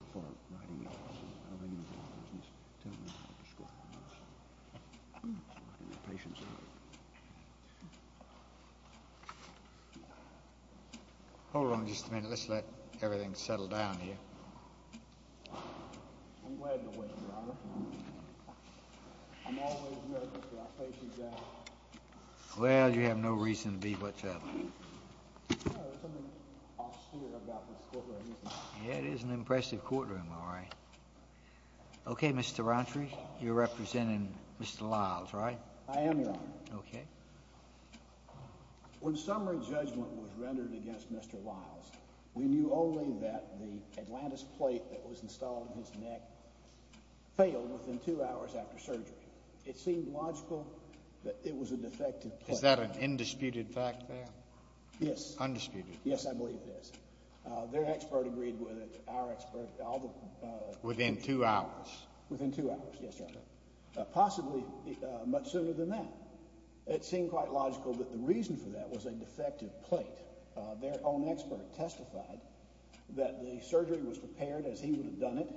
...before writing it. I don't think he was talking business. Tell me about the score. I don't know. I'm writing it patiently. I'm glad you're waiting, Robert. I'm always ready to see how things are going. Well, there's something off-steer I've got with the score, I guess. Okay, Mr. Rountree, you're representing Mr. Lyles, right? I am, Your Honor. Okay. When summary judgment was rendered against Mr. Lyles, we knew only that the Atlantis plate that was installed in his neck failed within two hours after surgery. It seemed logical that it was a defective plate. Is that an indisputed fact there? Yes. Undisputed? Yes, I believe it is. Their expert agreed with it, our expert. Within two hours? Within two hours, yes, Your Honor. Possibly much sooner than that. It seemed quite logical that the reason for that was a defective plate. Their own expert testified that the surgery was prepared as he would have done it,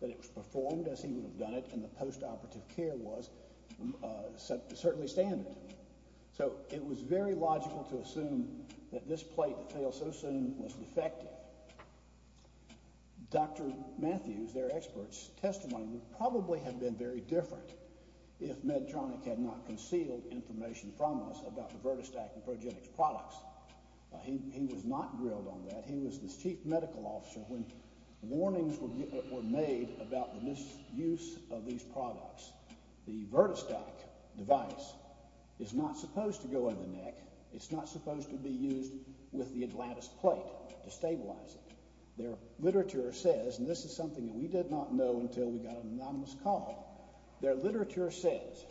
that it was performed as he would have done it, and the post-operative care was certainly standard. So it was very logical to assume that this plate that failed so soon was defective. Dr. Matthews, their expert's testimony would probably have been very different if Medtronic had not concealed information from us about the Vertostat and Progenix products. He was not grilled on that. He was the chief medical officer when warnings were made about the misuse of these products. The Vertostat device is not supposed to go in the neck. It's not supposed to be used with the Atlantis plate to stabilize it. Their literature says, and this is something that we did not know until we got an anonymous call, their literature says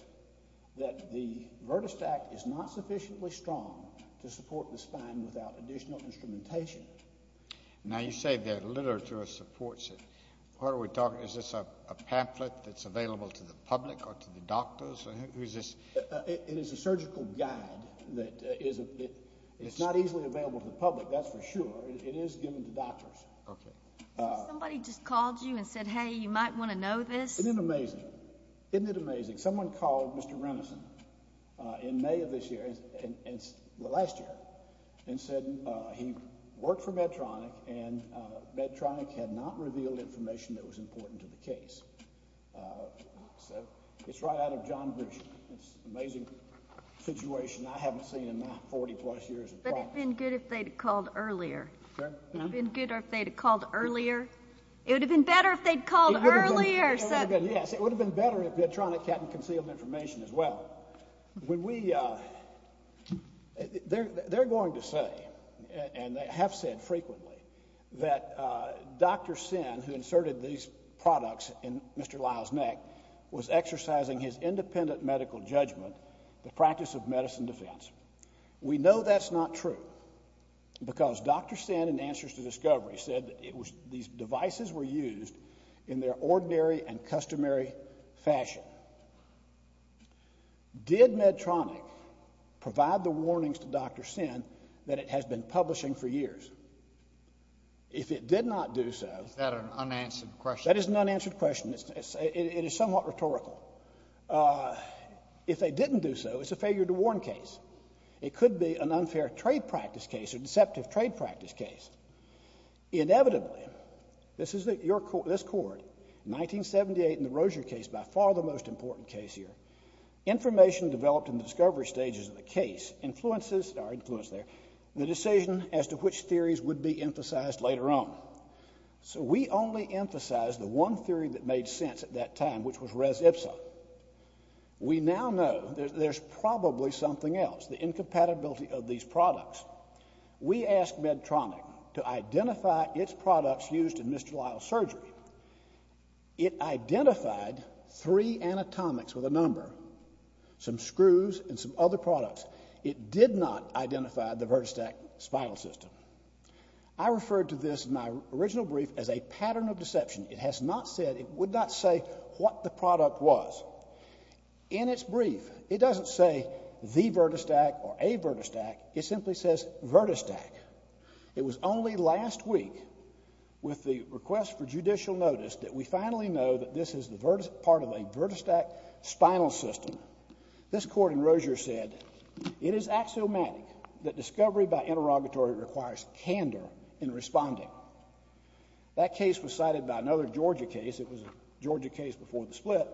that the Vertostat is not sufficiently strong to support the spine without additional instrumentation. Now you say their literature supports it. What are we talking about? Is this a pamphlet that's available to the public or to the doctors? It is a surgical guide. It's not easily available to the public, that's for sure. It is given to doctors. Somebody just called you and said, hey, you might want to know this. Isn't it amazing? Isn't it amazing? Someone called Mr. Renison in May of this year, well, last year, and said he worked for Medtronic and Medtronic had not revealed information that was important to the case. So it's right out of John Bush. It's an amazing situation I haven't seen in my 40-plus years of practice. But it would have been good if they had called earlier. What? It would have been good if they had called earlier. It would have been better if they had called earlier. Yes, it would have been better if Medtronic hadn't concealed information as well. They're going to say, and they have said frequently, that Dr. Sin, who inserted these products in Mr. Lyle's neck, was exercising his independent medical judgment, the practice of medicine defense. We know that's not true because Dr. Sin, in answers to discovery, said that these devices were used in their ordinary and customary fashion. Did Medtronic provide the warnings to Dr. Sin that it has been publishing for years? If it did not do so. Is that an unanswered question? That is an unanswered question. It is somewhat rhetorical. If they didn't do so, it's a failure to warn case. It could be an unfair trade practice case, a deceptive trade practice case. Inevitably, this is your court, this court, 1978 in the Rozier case, by far the most important case here, information developed in the discovery stages of the case influences, our influence there, the decision as to which theories would be emphasized later on. So we only emphasize the one theory that made sense at that time, which was res ipsa. We now know there's probably something else, the incompatibility of these products. We asked Medtronic to identify its products used in Mr. Lyle's surgery. It identified three anatomics with a number, some screws and some other products. It did not identify the vertistat spinal system. I referred to this in my original brief as a pattern of deception. It has not said, it would not say what the product was. In its brief, it doesn't say the vertistat or a vertistat. It simply says vertistat. It was only last week with the request for judicial notice that we finally know that this is part of a vertistat spinal system. This court in Rozier said, it is axiomatic that discovery by interrogatory requires candor in responding. That case was cited by another Georgia case. It was a Georgia case before the split.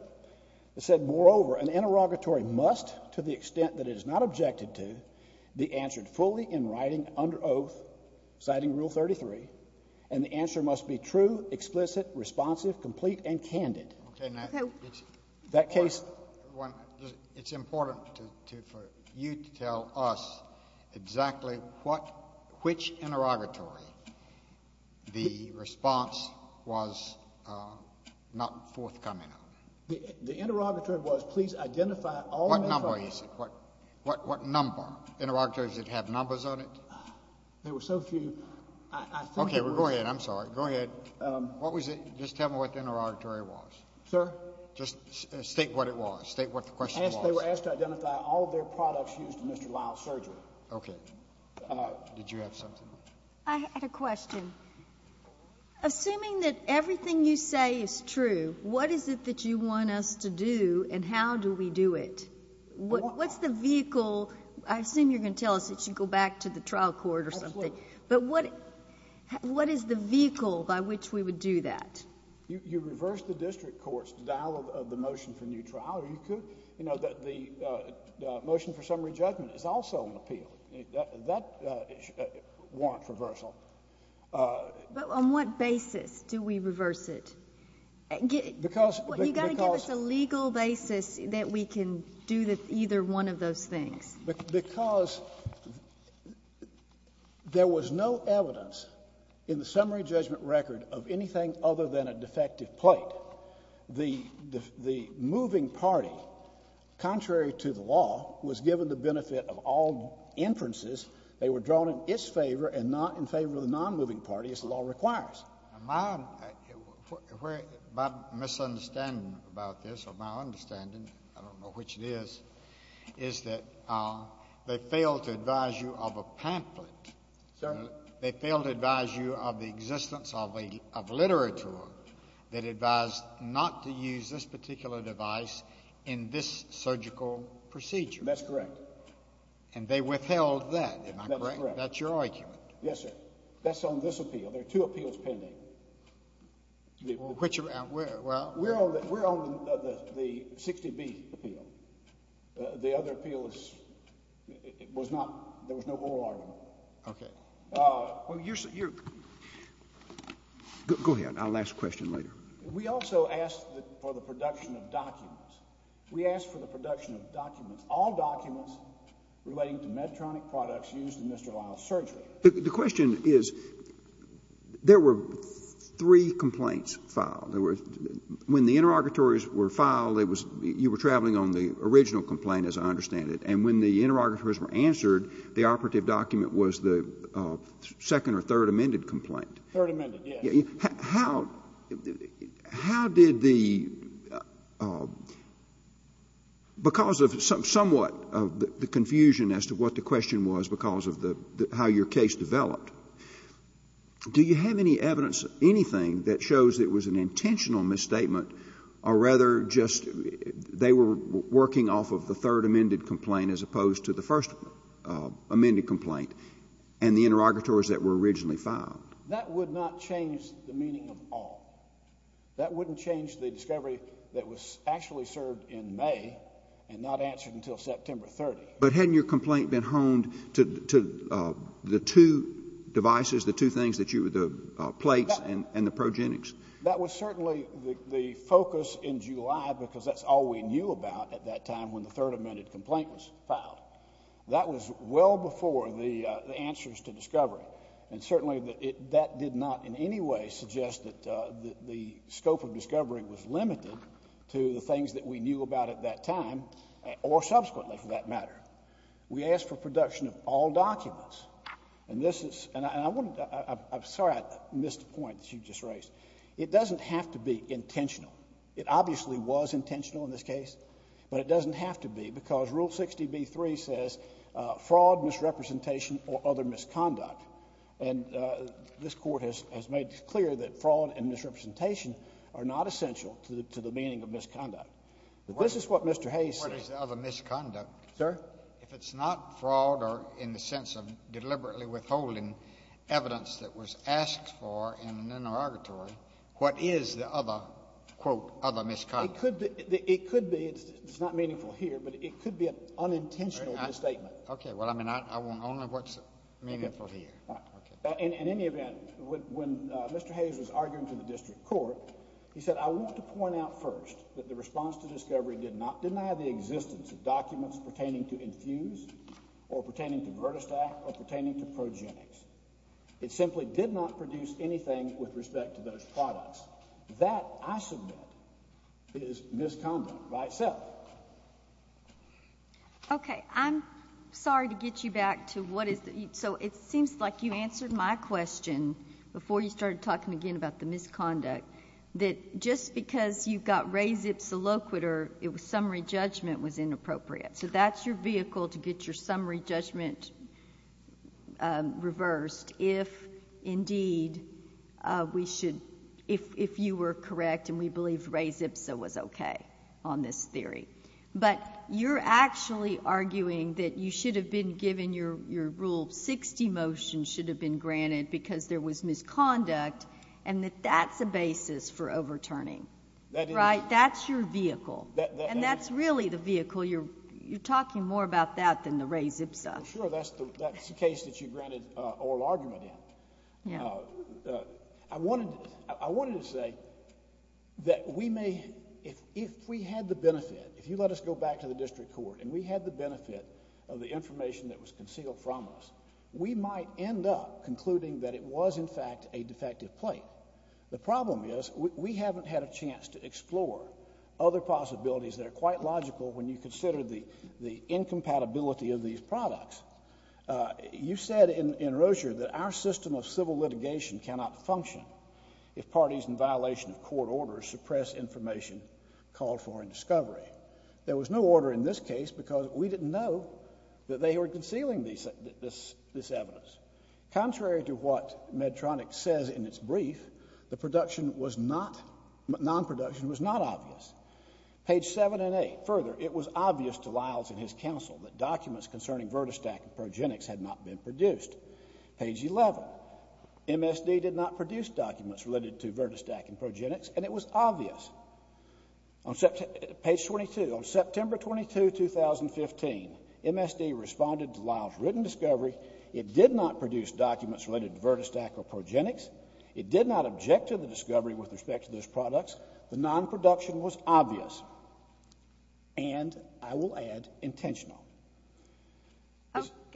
It said, moreover, an interrogatory must, to the extent that it is not objected to, be answered fully in writing under oath, citing Rule 33, and the answer must be true, explicit, responsive, complete, and candid. Okay, now, it's important for you to tell us exactly which interrogatory the response was not forthcoming on. The interrogatory was, please identify all the products. What number is it? What number? Interrogatories that have numbers on it? There were so few. Okay, well, go ahead. I'm sorry. Go ahead. Just tell me what the interrogatory was. Sir? Just state what it was. State what the question was. They were asked to identify all of their products used in Mr. Lyle's surgery. Okay. Did you have something? I had a question. Assuming that everything you say is true, what is it that you want us to do, and how do we do it? What's the vehicle? I assume you're going to tell us it should go back to the trial court or something. Absolutely. But what is the vehicle by which we would do that? You reverse the district court's dialogue of the motion for new trial. You could, you know, the motion for summary judgment is also an appeal. That warrant reversal. But on what basis do we reverse it? You've got to give us a legal basis that we can do either one of those things. Because there was no evidence in the summary judgment record of anything other than a defective plate. The moving party, contrary to the law, was given the benefit of all inferences. They were drawn in its favor and not in favor of the nonmoving party, as the law requires. My misunderstanding about this, or my understanding, I don't know which it is, is that they failed to advise you of a pamphlet. Sir? They failed to advise you of the existence of literature that advised not to use this particular device in this surgical procedure. That's correct. And they withheld that. That's correct. That's your argument. Yes, sir. That's on this appeal. There are two appeals pending. Which are out where? We're on the 60B appeal. The other appeal was not, there was no oral argument. Okay. Go ahead. I'll ask a question later. We also asked for the production of documents. We asked for the production of documents, all documents relating to Medtronic products used in Mr. Lyle's surgery. The question is, there were three complaints filed. When the interrogatories were filed, you were traveling on the original complaint, as I understand it. And when the interrogatories were answered, the operative document was the second or third amended complaint. Third amended, yes. How did the, because of somewhat the confusion as to what the question was because of how your case developed, do you have any evidence of anything that shows it was an intentional misstatement, or rather just they were working off of the third amended complaint as opposed to the first amended complaint, and the interrogatories that were originally filed? That would not change the meaning of all. That wouldn't change the discovery that was actually served in May and not answered until September 30. But hadn't your complaint been honed to the two devices, the two things that you, the plates and the progenics? That was certainly the focus in July because that's all we knew about at that time when the third amended complaint was filed. That was well before the answers to discovery. And certainly that did not in any way suggest that the scope of discovery was limited to the things that we knew about at that time, or subsequently for that matter. We asked for production of all documents. And this is, and I'm sorry I missed a point that you just raised. It doesn't have to be intentional. It obviously was intentional in this case. But it doesn't have to be because Rule 60b-3 says fraud, misrepresentation, or other misconduct. And this Court has made clear that fraud and misrepresentation are not essential to the meaning of misconduct. But this is what Mr. Hayes said. What is the other misconduct? Sir? If it's not fraud or in the sense of deliberately withholding evidence that was asked for in an interrogatory, what is the other, quote, other misconduct? It could be, it's not meaningful here, but it could be an unintentional misstatement. Okay. Well, I mean, I want only what's meaningful here. All right. In any event, when Mr. Hayes was arguing to the District Court, he said, I want to point out first that the response to discovery did not deny the existence of documents pertaining to infuse or pertaining to vertistat or pertaining to progenics. It simply did not produce anything with respect to those products. That, I submit, is misconduct by itself. Okay. I'm sorry to get you back to what is the, so it seems like you answered my question before you started talking again about the misconduct, that just because you've got res ipsa loquitur, it was summary judgment was inappropriate. So that's your vehicle to get your summary judgment reversed if indeed we should, if you were correct and we believe res ipsa was okay on this theory. But you're actually arguing that you should have been given your rule 60 motion should have been granted because there was misconduct and that that's a basis for overturning. Right? That's your vehicle. And that's really the vehicle. You're talking more about that than the res ipsa. Sure. That's the case that you granted oral argument in. I wanted to say that we may, if we had the benefit, if you let us go back to the District Court and we had the benefit of the information that was concealed from us, we might end up concluding that it was in fact a defective plate. The problem is we haven't had a chance to explore other possibilities that are quite logical when you consider the incompatibility of these products. You said in Rozier that our system of civil litigation cannot function if parties in violation of court orders suppress information called for in discovery. There was no order in this case because we didn't know that they were concealing this evidence. Contrary to what Medtronic says in its brief, the production was not, non-production was not obvious. Page 7 and 8. Further, it was obvious to Lyles and his counsel that documents concerning Virtostack and Progenix had not been produced. Page 11. MSD did not produce documents related to Virtostack and Progenix and it was obvious. Page 22. On September 22, 2015, MSD responded to Lyles' written discovery. It did not produce documents related to Virtostack or Progenix. It did not object to the discovery with respect to those products. The non-production was obvious and, I will add, intentional.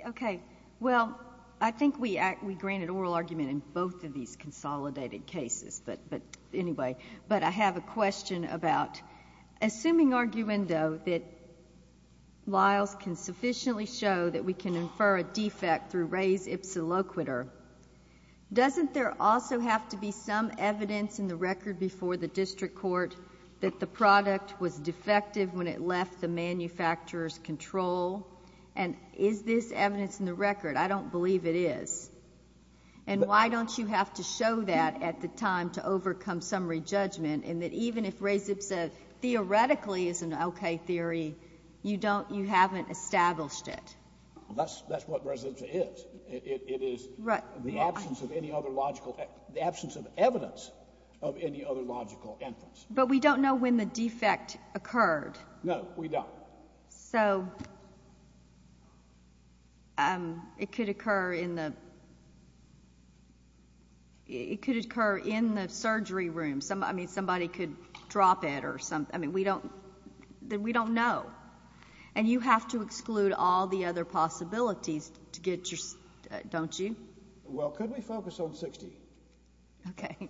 Okay. Well, I think we granted oral argument in both of these consolidated cases. But anyway, but I have a question about assuming arguendo that Lyles can sufficiently show that we can infer a defect through res ipsa loquitur, doesn't there also have to be some evidence in the record before the district court that the product was defective when it left the manufacturer's control? And is this evidence in the record? I don't believe it is. And why don't you have to show that at the time to overcome summary judgment, and that even if res ipsa theoretically is an okay theory, you don't, you haven't established it? That's what res ipsa is. It is the absence of any other logical, the absence of evidence of any other logical inference. But we don't know when the defect occurred. No, we don't. So it could occur in the surgery room. I mean, somebody could drop it or something. I mean, we don't know. And you have to exclude all the other possibilities, don't you? Well, could we focus on 60? Okay.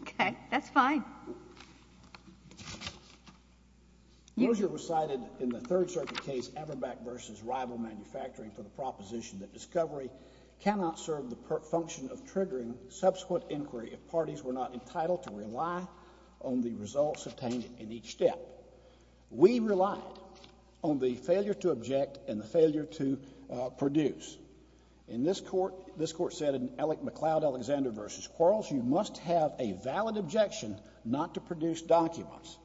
Okay, that's fine. Now, Moser recited in the Third Circuit case Aberbach v. Rival Manufacturing for the proposition that discovery cannot serve the function of triggering subsequent inquiry if parties were not entitled to rely on the results obtained in each step. We relied on the failure to object and the failure to produce. In this Court, this Court said in McLeod, Alexander v. Quarles, you must have a valid objection not to produce documents.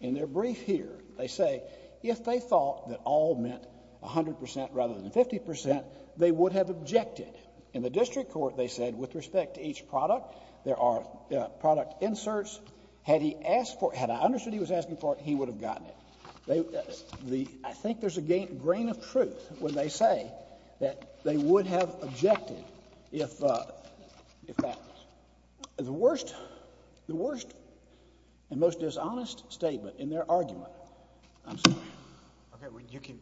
In their brief here, they say if they thought that all meant 100 percent rather than 50 percent, they would have objected. In the district court, they said with respect to each product, there are product inserts. Had he asked for it, had I understood he was asking for it, he would have gotten it. I think there's a grain of truth when they say that they would have objected if that was the worst and most dishonest statement in their argument. I'm sorry. Okay,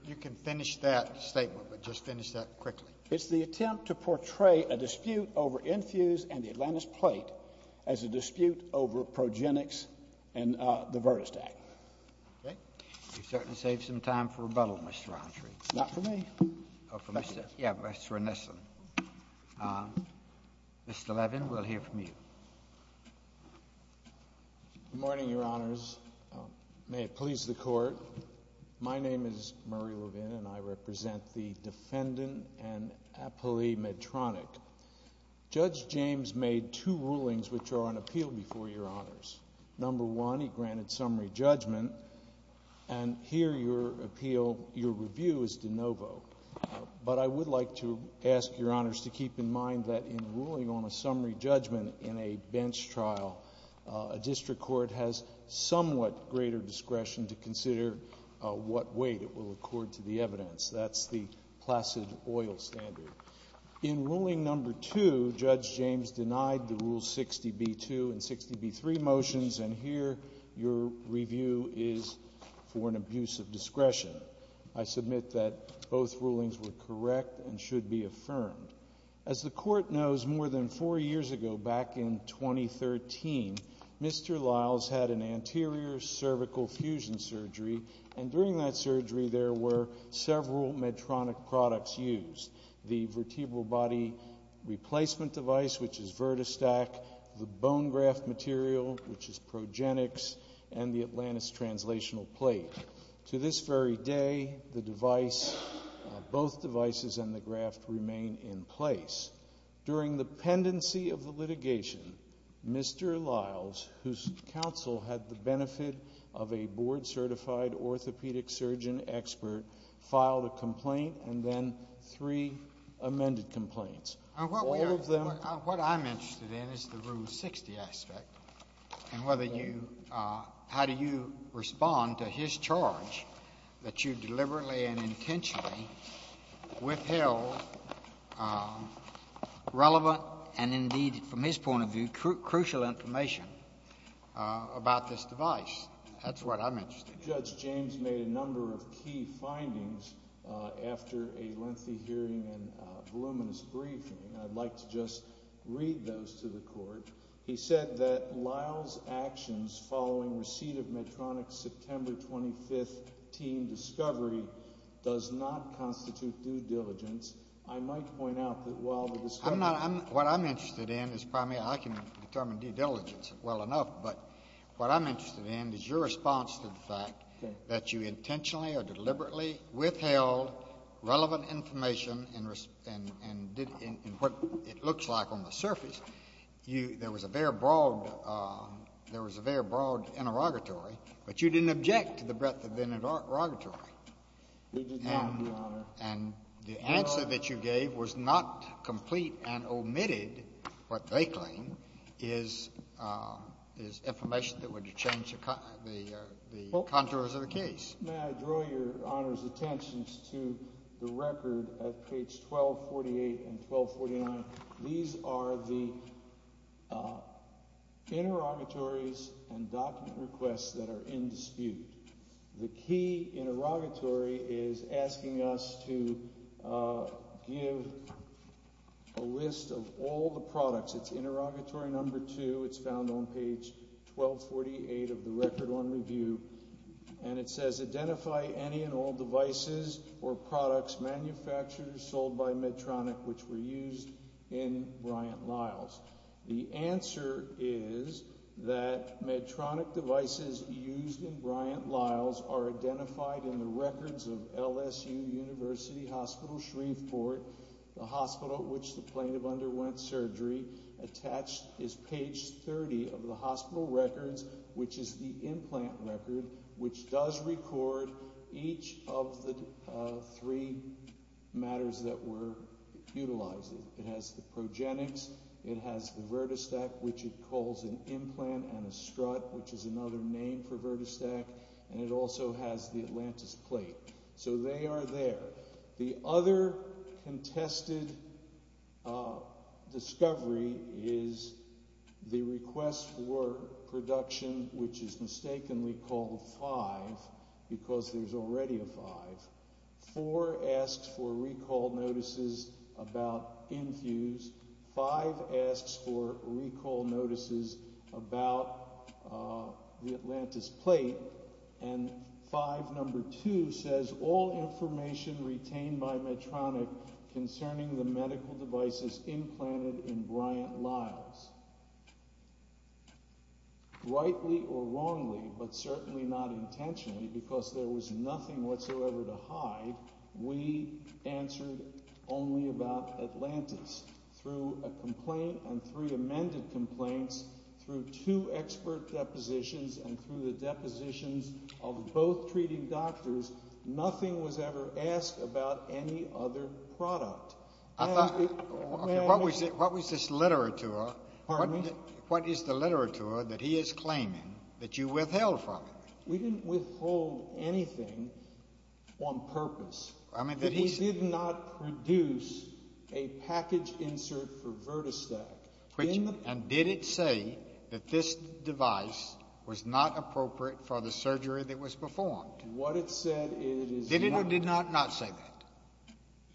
you can finish that statement, but just finish that quickly. It's the attempt to portray a dispute over Enfuse and the Atlantis Plate as a dispute over progenics and the Virtus Act. You certainly saved some time for rebuttal, Mr. Autry. Not for me. Yeah, but that's for Ennison. Mr. Levin, we'll hear from you. Good morning, Your Honors. May it please the Court. My name is Murray Levin, and I represent the Defendant and Appealee Medtronic. Judge James made two rulings which are on appeal before Your Honors. Number one, he granted summary judgment. And here your appeal, your review, is de novo. But I would like to ask Your Honors to keep in mind that in ruling on a summary judgment in a bench trial, a district court has somewhat greater discretion to consider what weight it will accord to the evidence. That's the placid oil standard. In ruling number two, Judge James denied the Rule 60b-2 and 60b-3 motions, and here your review is for an abuse of discretion. I submit that both rulings were correct and should be affirmed. As the Court knows, more than four years ago, back in 2013, Mr. Liles had an anterior cervical fusion surgery, and during that surgery there were several Medtronic products used. The vertebral body replacement device, which is VertiStack, the bone graft material, which is Progenix, and the Atlantis translational plate. To this very day, the device, both devices and the graft remain in place. During the pendency of the litigation, Mr. Liles, whose counsel had the benefit of a board-certified orthopedic surgeon expert, filed a complaint and then three amended complaints. All of them. What I'm interested in is the Rule 60 aspect and how do you respond to his charge that you deliberately and intentionally withheld relevant and, indeed, from his point of view, crucial information about this device. That's what I'm interested in. I think Judge James made a number of key findings after a lengthy hearing and voluminous briefing, and I'd like to just read those to the Court. He said that Liles' actions following receipt of Medtronic's September 25th team discovery does not constitute due diligence. I might point out that while the discovery- What I'm interested in is primarily- I can determine due diligence well enough, but what I'm interested in is your response to the fact that you intentionally or deliberately withheld relevant information in what it looks like on the surface. There was a very broad interrogatory, but you didn't object to the breadth of the interrogatory. We did not, Your Honor. And the answer that you gave was not complete and omitted what they claim is information that would change the contours of the case. May I draw Your Honor's attention to the record of page 1248 and 1249? These are the interrogatories and document requests that are in dispute. The key interrogatory is asking us to give a list of all the products. It's interrogatory number two. It's found on page 1248 of the Record on Review, and it says, Identify any and all devices or products manufactured or sold by Medtronic which were used in Bryant-Liles. The answer is that Medtronic devices used in Bryant-Liles are identified in the records of LSU University Hospital Shreveport, the hospital which the plaintiff underwent surgery. Attached is page 30 of the hospital records, which is the implant record, which does record each of the three matters that were utilized. It has the progenics. It has the VertiStack, which it calls an implant, and a strut, which is another name for VertiStack. And it also has the Atlantis plate. So they are there. The other contested discovery is the request for production, which is mistakenly called five because there's already a five. Four asks for recall notices about Infuse. Five asks for recall notices about the Atlantis plate. And five number two says all information retained by Medtronic concerning the medical devices implanted in Bryant-Liles. Rightly or wrongly, but certainly not intentionally, because there was nothing whatsoever to hide, we answered only about Atlantis. Through a complaint and three amended complaints, through two expert depositions, and through the depositions of both treating doctors, nothing was ever asked about any other product. What was this literature? Pardon me? What is the literature that he is claiming that you withheld from him? We didn't withhold anything on purpose. He did not produce a package insert for VertiStack. And did it say that this device was not appropriate for the surgery that was performed? What it said is it is not. Did it or did it not say that?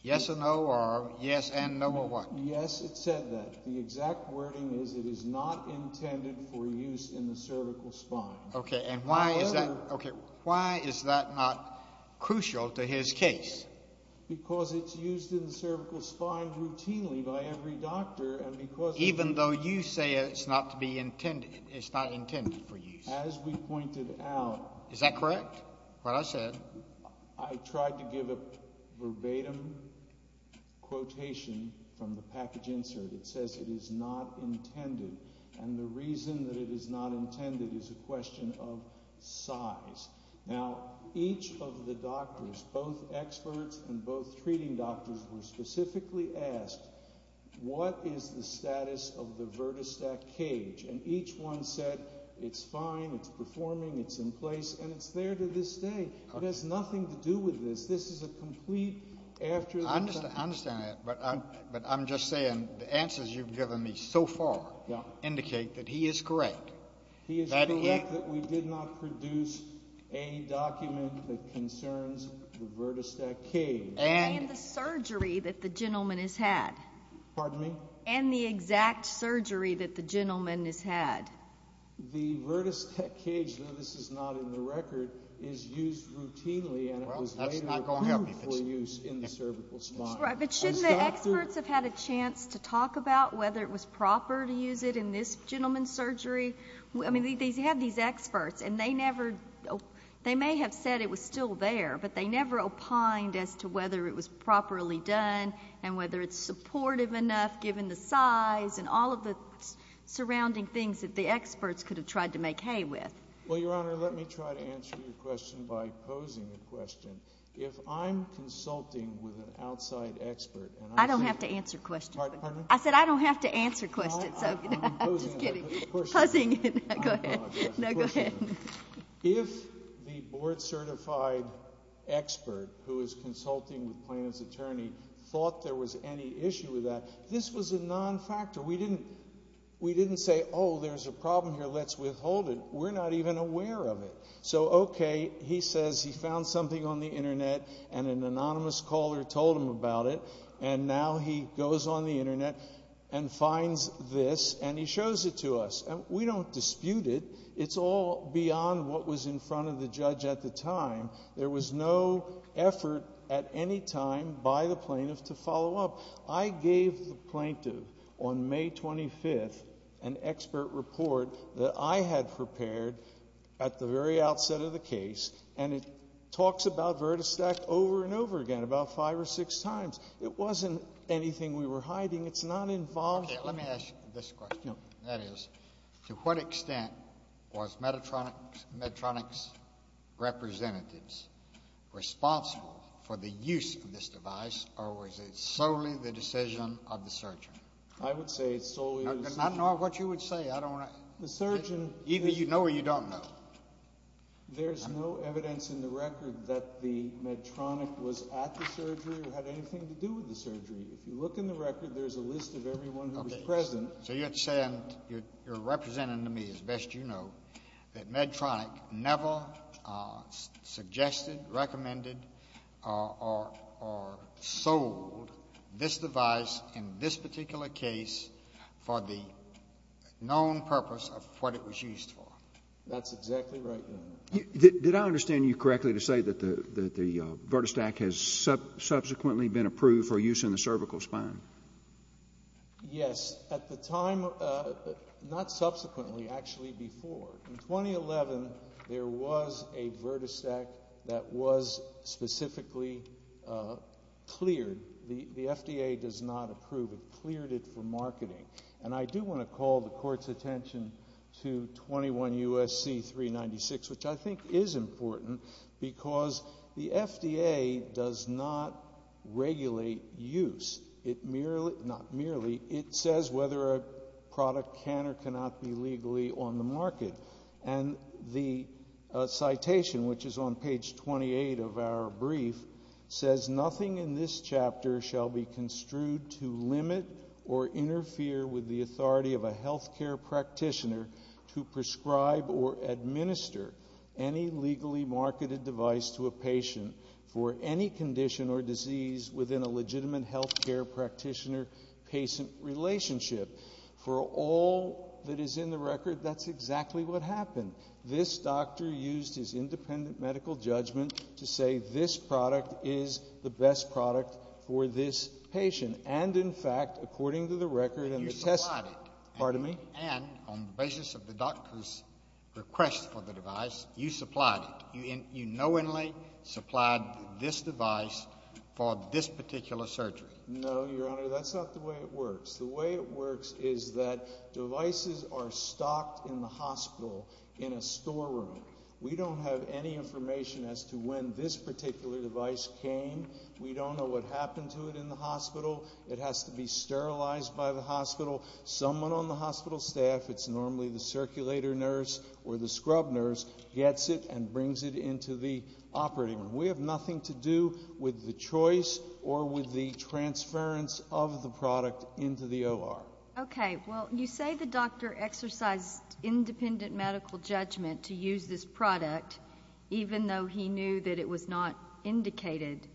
Yes or no or yes and no or what? Yes, it said that. The exact wording is it is not intended for use in the cervical spine. Okay, and why is that not crucial to his case? Because it's used in the cervical spine routinely by every doctor. Even though you say it's not intended for use? As we pointed out. Is that correct, what I said? I tried to give a verbatim quotation from the package insert. It says it is not intended. And the reason that it is not intended is a question of size. Now, each of the doctors, both experts and both treating doctors, were specifically asked what is the status of the VertiStack cage? And each one said it's fine, it's performing, it's in place, and it's there to this day. It has nothing to do with this. This is a complete after the fact. I understand that. But I'm just saying the answers you've given me so far indicate that he is correct. He is correct that we did not produce a document that concerns the VertiStack cage. And the surgery that the gentleman has had. Pardon me? And the exact surgery that the gentleman has had. The VertiStack cage, though this is not in the record, is used routinely for use in the cervical spine. But shouldn't the experts have had a chance to talk about whether it was proper to use it in this gentleman's surgery? I mean, they had these experts, and they may have said it was still there, but they never opined as to whether it was properly done and whether it's supportive enough given the size and all of the surrounding things that the experts could have tried to make hay with. Well, Your Honor, let me try to answer your question by posing a question. If I'm consulting with an outside expert. I don't have to answer questions. Pardon me? I said I don't have to answer questions. I'm posing a question. No, go ahead. If the board-certified expert who is consulting with Plano's attorney thought there was any issue with that, this was a non-factor. We didn't say, oh, there's a problem here, let's withhold it. We're not even aware of it. So, okay, he says he found something on the Internet and an anonymous caller told him about it, and now he goes on the Internet and finds this, and he shows it to us. We don't dispute it. It's all beyond what was in front of the judge at the time. There was no effort at any time by the plaintiff to follow up. I gave the plaintiff on May 25th an expert report that I had prepared at the very outset of the case, and it talks about VirtaStack over and over again, about five or six times. It wasn't anything we were hiding. It's not involved. Okay, let me ask you this question. That is, to what extent was Medtronic's representatives responsible for the use of this device, or was it solely the decision of the surgeon? I would say it's solely the decision. I don't know what you would say. Either you know or you don't know. There's no evidence in the record that Medtronic was at the surgery or had anything to do with the surgery. If you look in the record, there's a list of everyone who was present. So you're saying you're representing to me, as best you know, that Medtronic never suggested, recommended, or sold this device in this particular case for the known purpose of what it was used for. That's exactly right, Your Honor. Did I understand you correctly to say that the VirtaStack has subsequently been approved for use in the cervical spine? Yes. At the time, not subsequently, actually before. In 2011, there was a VirtaStack that was specifically cleared. The FDA does not approve. It cleared it for marketing. And I do want to call the Court's attention to 21 U.S.C. 396, which I think is important because the FDA does not regulate use. Not merely. It says whether a product can or cannot be legally on the market. And the citation, which is on page 28 of our brief, says, Nothing in this chapter shall be construed to limit or interfere with the authority of a health care practitioner to prescribe or administer any legally marketed device to a patient for any condition or disease within a legitimate health care practitioner-patient relationship. For all that is in the record, that's exactly what happened. This doctor used his independent medical judgment to say this product is the best product for this patient. And, in fact, according to the record and the testimony. And you supplied it. Pardon me? And on the basis of the doctor's request for the device, you supplied it. You knowingly supplied this device for this particular surgery. No, Your Honor, that's not the way it works. The way it works is that devices are stocked in the hospital in a storeroom. We don't have any information as to when this particular device came. We don't know what happened to it in the hospital. It has to be sterilized by the hospital. Someone on the hospital staff, it's normally the circulator nurse or the scrub nurse, gets it and brings it into the operating room. We have nothing to do with the choice or with the transference of the product into the OR. Okay. Well, you say the doctor exercised independent medical judgment to use this product, even though he knew that it was not indicated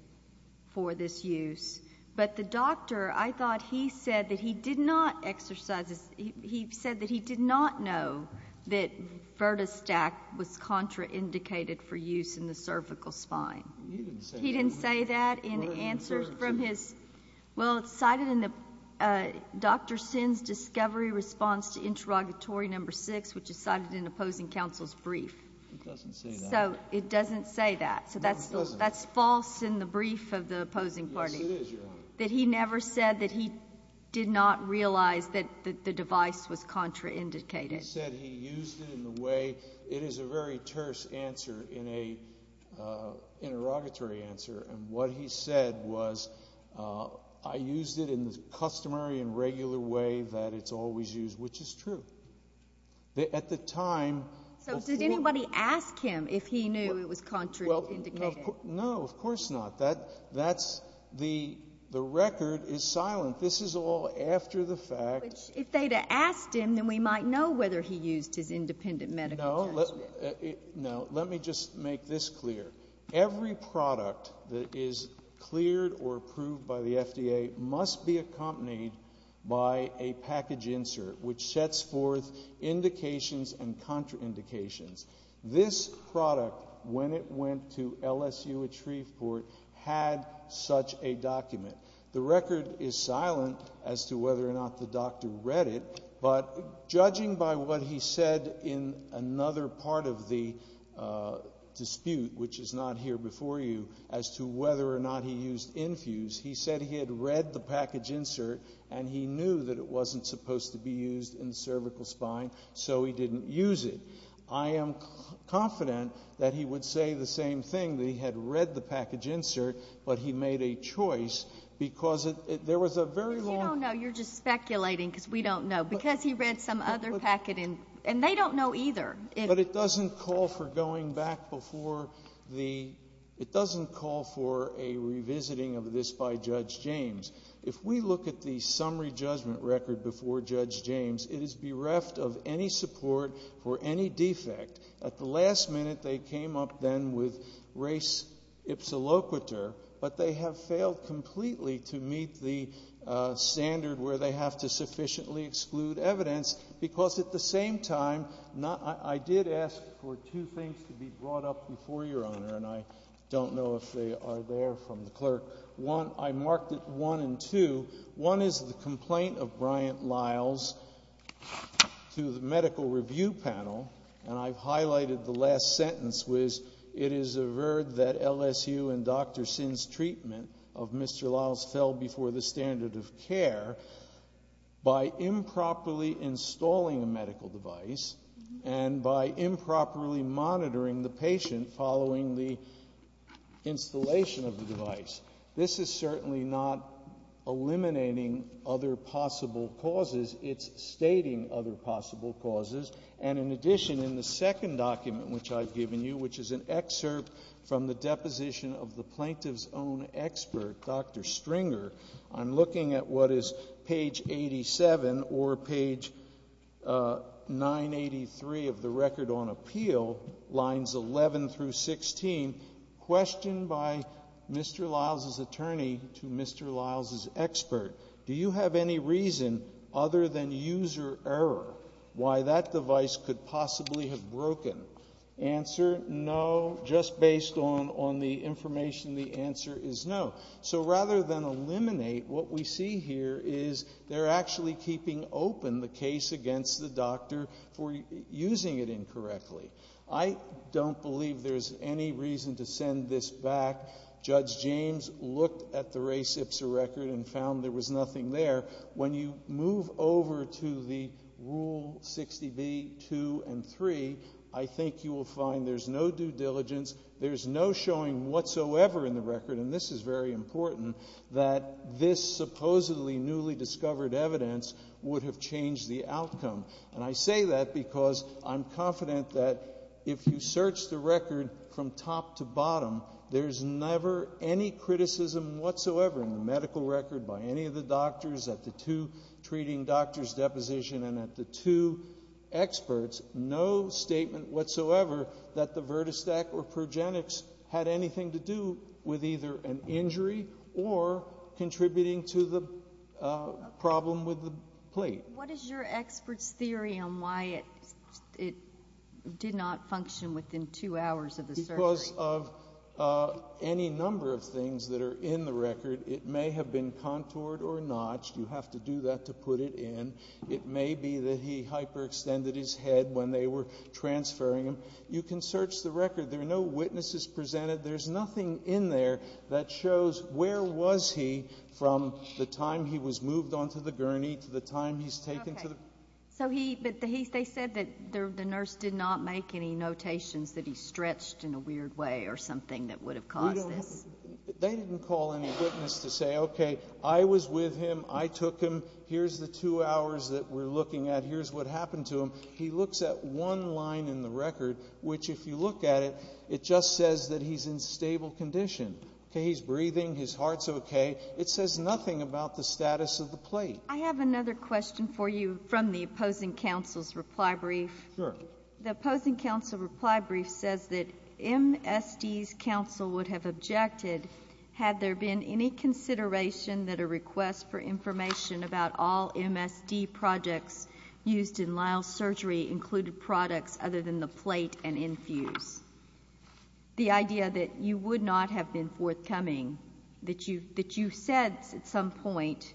for this use. But the doctor, I thought he said that he did not exercise this. He said it was contraindicated for use in the cervical spine. He didn't say that. He didn't say that in answers from his ñ well, it's cited in Dr. Sinn's discovery response to interrogatory number 6, which is cited in opposing counsel's brief. It doesn't say that. So it doesn't say that. No, it doesn't. So that's false in the brief of the opposing party. Yes, it is, Your Honor. That he never said that he did not realize that the device was contraindicated. He said he used it in the way ñ it is a very terse answer in an interrogatory answer. And what he said was, I used it in the customary and regular way that it's always used, which is true. At the time ñ So did anybody ask him if he knew it was contraindicated? No, of course not. That's ñ the record is silent. This is all after the fact. If they'd have asked him, then we might know whether he used his independent medical judgment. No, let me just make this clear. Every product that is cleared or approved by the FDA must be accompanied by a package insert, which sets forth indications and contraindications. This product, when it went to LSU at Shreveport, had such a document. The record is silent as to whether or not the doctor read it. But judging by what he said in another part of the dispute, which is not here before you, as to whether or not he used Infuse, he said he had read the package insert and he knew that it wasn't supposed to be used in the cervical spine, so he didn't use it. I am confident that he would say the same thing, that he had read the package insert, but he made a choice because there was a very long ñ You don't know. You're just speculating because we don't know. Because he read some other packet, and they don't know either. But it doesn't call for going back before the ñ it doesn't call for a revisiting of this by Judge James. If we look at the summary judgment record before Judge James, it is bereft of any support for any defect. At the last minute they came up then with res ipsa loquitur, but they have failed completely to meet the standard where they have to sufficiently exclude evidence because at the same time I did ask for two things to be brought up before Your Honor, and I don't know if they are there from the clerk. One, I marked it 1 and 2. One is the complaint of Bryant-Liles to the medical review panel, and I've highlighted the last sentence, which it is averred that LSU and Dr. Sin's treatment of Mr. Liles fell before the standard of care by improperly installing a medical device and by improperly monitoring the patient following the installation of the device. This is certainly not eliminating other possible causes. It's stating other possible causes. And in addition, in the second document which I've given you, which is an excerpt from the deposition of the plaintiff's own expert, Dr. Stringer, I'm looking at what is page 87 or page 983 of the Record on Appeal, lines 11 through 16, questioned by Mr. Liles' attorney to Mr. Liles' expert, do you have any reason, other than user error, why that device could possibly have broken? Answer, no, just based on the information the answer is no. So rather than eliminate, what we see here is they're actually keeping open the case against the doctor for using it incorrectly. I don't believe there's any reason to send this back. Judge James looked at the Ray Sipser record and found there was nothing there. When you move over to the Rule 60B, 2, and 3, I think you will find there's no due diligence, there's no showing whatsoever in the record, and this is very important, that this supposedly newly discovered evidence would have changed the outcome. And I say that because I'm confident that if you search the record from top to bottom, there's never any criticism whatsoever in the medical record by any of the doctors, at the two treating doctors' depositions and at the two experts, no statement whatsoever that the VirtaStack or Progenix had anything to do with either an injury or contributing to the problem with the plate. What is your expert's theory on why it did not function within two hours of the surgery? Because of any number of things that are in the record. It may have been contoured or notched. You have to do that to put it in. It may be that he hyperextended his head when they were transferring him. You can search the record. There are no witnesses presented. There's nothing in there that shows where was he from the time he was moved onto the gurney to the time he's taken to the... But they said that the nurse did not make any notations that he stretched in a weird way or something that would have caused this. They didn't call any witness to say, okay, I was with him. I took him. Here's the two hours that we're looking at. Here's what happened to him. He looks at one line in the record, which if you look at it, it just says that he's in stable condition. He's breathing. His heart's okay. It says nothing about the status of the plate. I have another question for you from the opposing counsel's reply brief. Sure. The opposing counsel reply brief says that MSD's counsel would have objected had there been any consideration that a request for information about all MSD projects used in Lyle's surgery included products other than the plate and infuse. The idea that you would not have been forthcoming, that you said at some point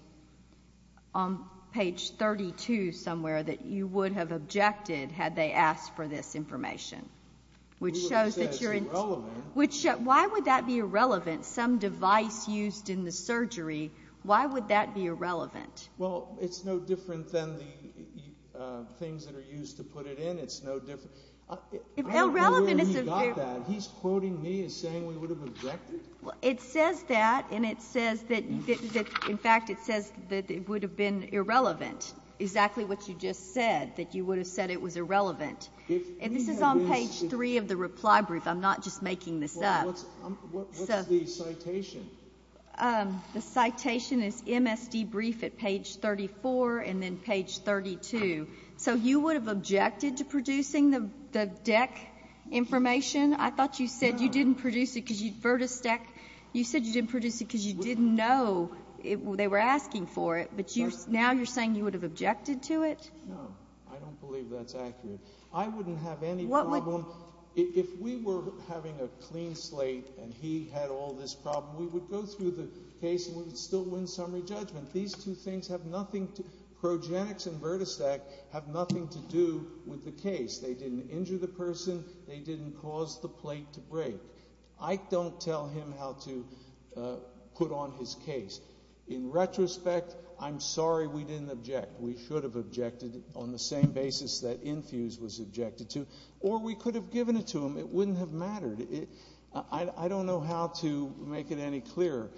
on page 32 somewhere that you would have objected had they asked for this information, which shows that you're... It's irrelevant. Why would that be irrelevant? Some device used in the surgery, why would that be irrelevant? Well, it's no different than the things that are used to put it in. It's no different. I don't know where he got that. He's quoting me as saying we would have objected? It says that, and it says that, in fact, it says that it would have been irrelevant, exactly what you just said, that you would have said it was irrelevant. And this is on page 3 of the reply brief. I'm not just making this up. What's the citation? The citation is MSD brief at page 34 and then page 32. So you would have objected to producing the DEC information? I thought you said you didn't produce it because you didn't know they were asking for it, but now you're saying you would have objected to it? No, I don't believe that's accurate. I wouldn't have any problem. If we were having a clean slate and he had all this problem, we would go through the case and we would still win summary judgment. These two things have nothing to do with the case. They didn't injure the person. They didn't cause the plate to break. I don't tell him how to put on his case. In retrospect, I'm sorry we didn't object. We should have objected on the same basis that Infuse was objected to, or we could have given it to him. It wouldn't have mattered. I don't know how to make it any clearer.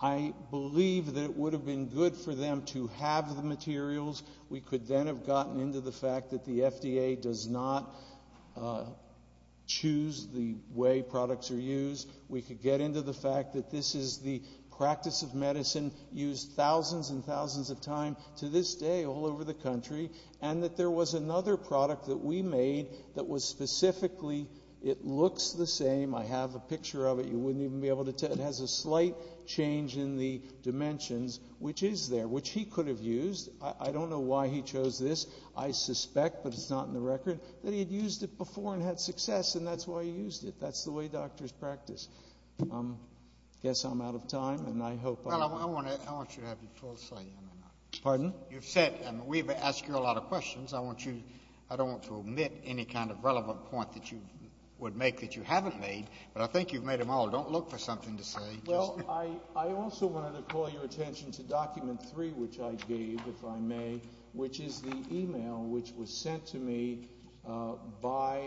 I believe that it would have been good for them to have the materials. We could then have gotten into the fact that the FDA does not choose the way products are used. We could get into the fact that this is the practice of medicine used thousands and thousands of times, to this day, all over the country, and that there was another product that we made that was specifically, it looks the same. I have a picture of it. You wouldn't even be able to tell. It has a slight change in the dimensions, which is there, which he could have used. I don't know why he chose this. I suspect, but it's not in the record, that he had used it before and had success, and that's why he used it. That's the way doctors practice. I guess I'm out of time, and I hope I'm not. Well, I want you to have your full say. Pardon? You've said we've asked you a lot of questions. I don't want to omit any kind of relevant point that you would make that you haven't made, but I think you've made them all. Don't look for something to say. Well, I also wanted to call your attention to document three, which I gave, if I may, which is the e-mail which was sent to me by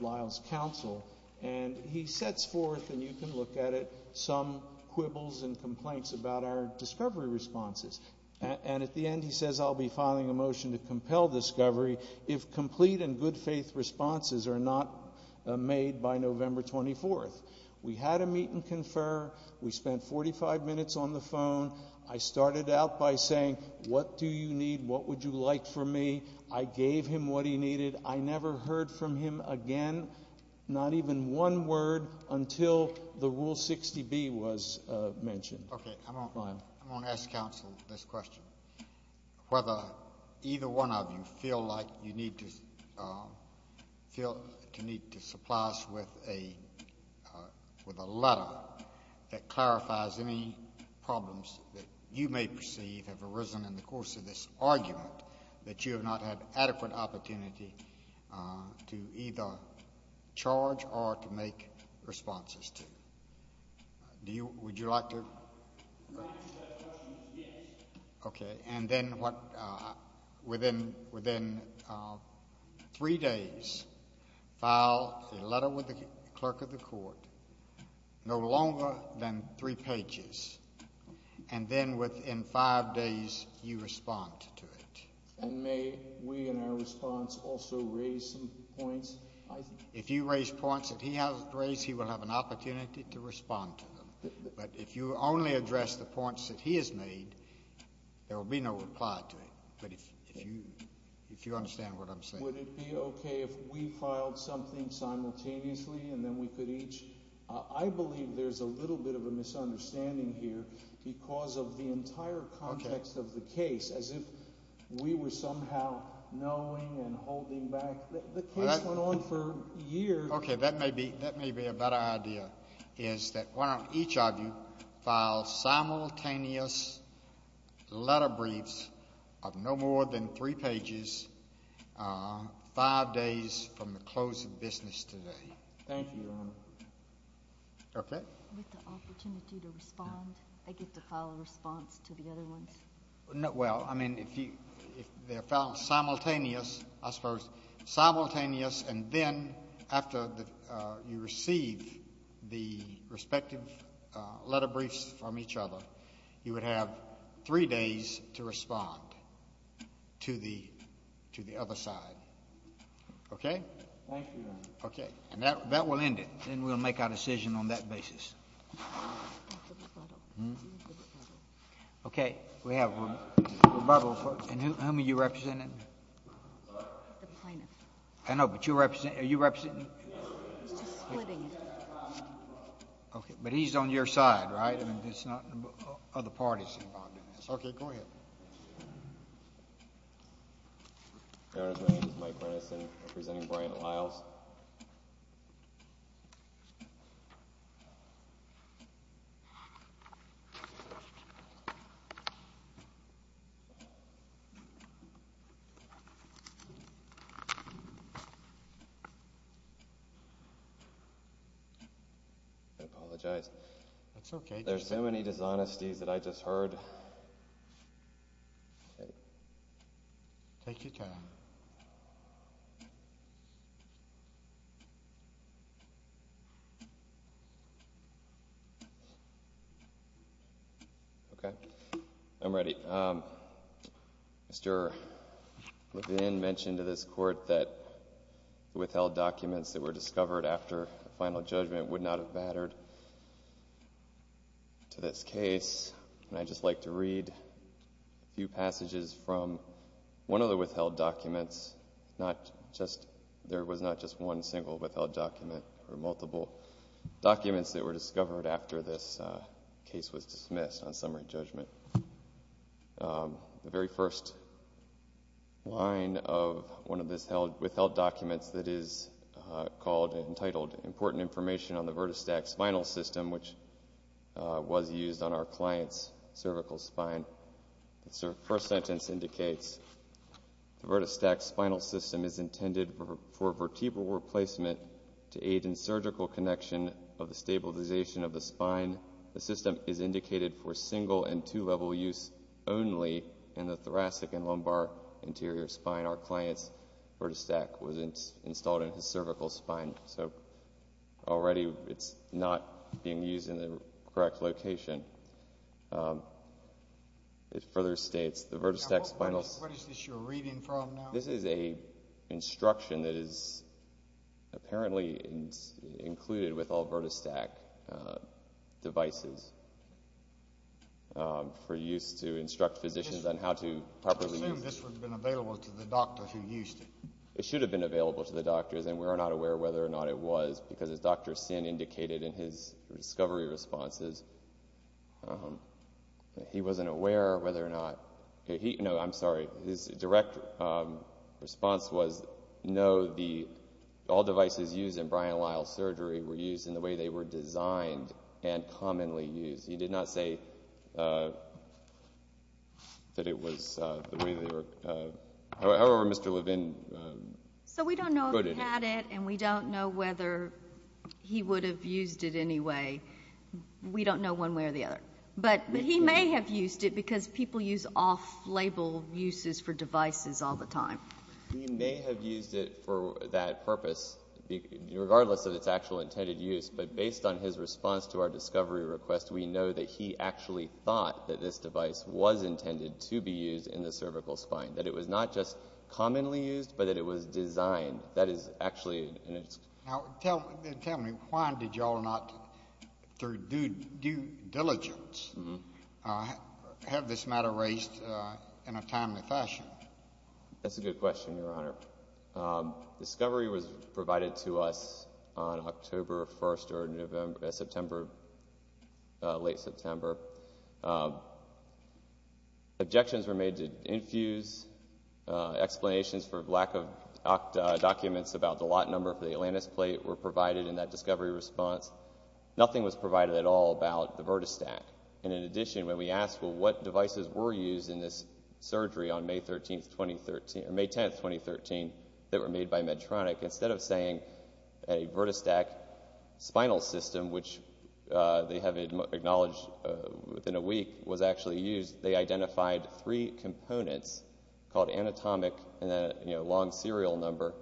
Lyle's counsel, and he sets forth, and you can look at it, some quibbles and complaints about our discovery responses, and at the end he says I'll be filing a motion to compel discovery if complete and good faith responses are not made by November 24th. We had a meet and confer. We spent 45 minutes on the phone. I started out by saying what do you need? What would you like from me? I gave him what he needed. I never heard from him again, not even one word, until the Rule 60B was mentioned. Okay. Lyle. I want to ask counsel this question, whether either one of you feel like you need to supply us with a letter that clarifies any problems that you may perceive have arisen in the course of this argument that you have not had adequate opportunity to either charge or to make responses to. Would you like to? Yes. Okay. And then within three days, file a letter with the clerk of the court, no longer than three pages, and then within five days you respond to it. And may we in our response also raise some points? If you raise points that he hasn't raised, he will have an opportunity to respond to them. But if you only address the points that he has made, there will be no reply to it. But if you understand what I'm saying. Would it be okay if we filed something simultaneously and then we could each? I believe there's a little bit of a misunderstanding here because of the entire context of the case, as if we were somehow knowing and holding back. The case went on for years. Okay. That may be a better idea is that each of you file simultaneous letter briefs of no more than three pages five days from the close of business today. Thank you, Your Honor. Okay. With the opportunity to respond, I get to file a response to the other ones? Well, I mean, if they're filed simultaneous, I suppose, simultaneous, and then after you receive the respective letter briefs from each other, you would have three days to respond to the other side. Okay? Thank you, Your Honor. Okay. And that will end it. Then we'll make our decision on that basis. Okay. We have a rebuttal. And whom are you representing? The plaintiff. I know, but are you representing? He's just splitting it. Okay. But he's on your side, right? It's not other parties involved in this. Okay. Go ahead. Your Honor, my name is Mike Renison representing Brian Liles. I apologize. That's okay. There's so many dishonesties that I just heard. Take your time. Okay. I'm ready. Mr. Levin mentioned to this Court that withheld documents that were And I'd just like to read a few passages from one of the withheld documents. There was not just one single withheld document. There were multiple documents that were discovered after this case was dismissed on summary judgment. The very first line of one of the withheld documents that is called important information on the vertistack spinal system, which was used on our client's cervical spine. The first sentence indicates, the vertistack spinal system is intended for vertebral replacement to aid in surgical connection of the stabilization of the spine. The system is indicated for single and two-level use only in the thoracic and lumbar anterior spine. Our client's vertistack was installed in his cervical spine. So already it's not being used in the correct location. It further states the vertistack spinal. What is this you're reading from now? This is a instruction that is apparently included with all vertistack devices for use to instruct physicians on how to properly. I assume this would have been available to the doctor who used it. It should have been available to the doctors, and we were not aware whether or not it was, because as Dr. Sin indicated in his discovery responses, he wasn't aware whether or not. No, I'm sorry. His direct response was, no, all devices used in Brian Lyle's surgery were used in the way they were designed and commonly used. He did not say that it was the way they were. However, Mr. Levin quoted it. So we don't know if he had it, and we don't know whether he would have used it anyway. We don't know one way or the other. But he may have used it because people use off-label uses for devices all the time. He may have used it for that purpose, regardless of its actual intended use. But based on his response to our discovery request, we know that he actually thought that this device was intended to be used in the cervical spine, that it was not just commonly used, but that it was designed. That is actually an excuse. Tell me, why did you all not, through due diligence, have this matter raised in a timely fashion? That's a good question, Your Honor. Discovery was provided to us on October 1st or September, late September. Objections were made to infuse. Explanations for lack of documents about the lot number for the Atlantis plate were provided in that discovery response. Nothing was provided at all about the VirtaStack. In addition, when we asked what devices were used in this surgery on May 10th, 2013, that were made by Medtronic, instead of saying a VirtaStack spinal system, which they have acknowledged within a week, was actually used, they identified three components called anatomic and long serial number.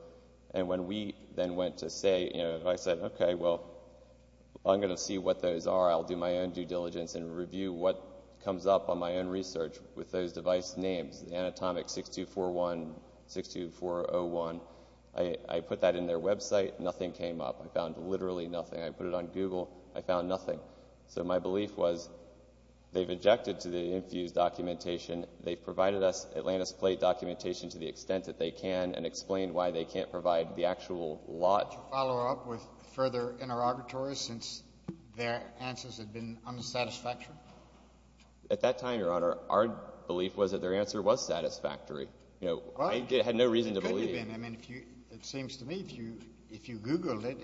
When we then went to say, I said, okay, well, I'm going to see what those are. I'll do my own due diligence and review what comes up on my own research with those device names, anatomic 6241, 62401. I put that in their website. Nothing came up. I found literally nothing. I put it on Google. I found nothing. So my belief was they've objected to the infused documentation. They've provided us Atlantis plate documentation to the extent that they can and explained why they can't provide the actual lot. Would you like to follow up with further interrogatories since their answers have been unsatisfactory? At that time, Your Honor, our belief was that their answer was satisfactory. I had no reason to believe. It could have been. It seems to me if you Googled it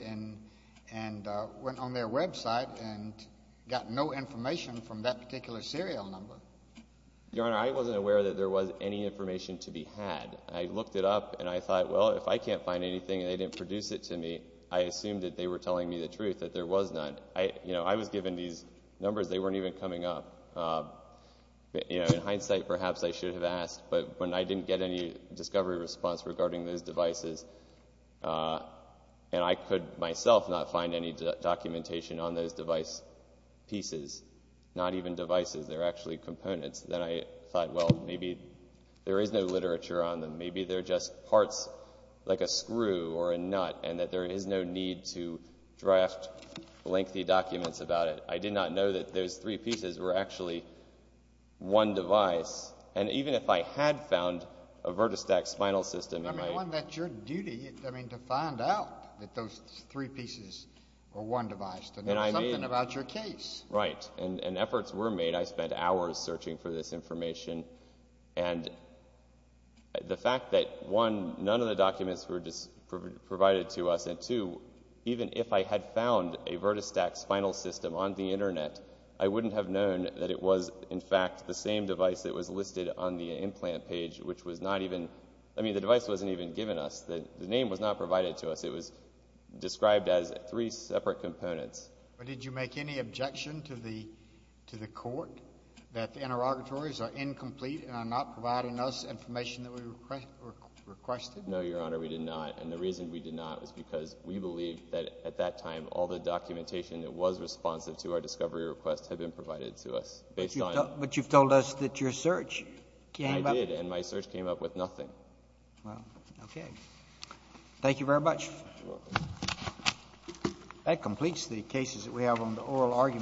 and went on their website and got no information from that particular serial number. Your Honor, I wasn't aware that there was any information to be had. I looked it up and I thought, well, if I can't find anything and they didn't produce it to me, I assumed that they were telling me the truth, that there was none. I was given these numbers. They weren't even coming up. In hindsight, perhaps I should have asked, but when I didn't get any discovery response regarding those devices and I could myself not find any documentation on those device pieces, not even devices, they're actually components, then I thought, well, maybe there is no literature on them. Maybe they're just parts like a screw or a nut and that there is no need to draft lengthy documents about it. I did not know that those three pieces were actually one device. And even if I had found a Virtustax spinal system in my... I mean, Your Honor, that's your duty to find out that those three pieces are one device, to know something about your case. Right. And efforts were made. I spent hours searching for this information. And the fact that, one, none of the documents were provided to us, and two, even if I had found a Virtustax spinal system on the Internet, I wouldn't have known that it was, in fact, the same device that was listed on the implant page, which was not even... I mean, the device wasn't even given to us. The name was not provided to us. It was described as three separate components. But did you make any objection to the court that the interrogatories are incomplete and are not providing us information that we requested? No, Your Honor. We did not. And the reason we did not was because we believed that at that time all the documentation that was responsive to our discovery requests had been provided to us. But you've told us that your search came up... I did. And my search came up with nothing. Well, okay. Thank you very much. You're welcome. That completes the cases that we have on the oral argument.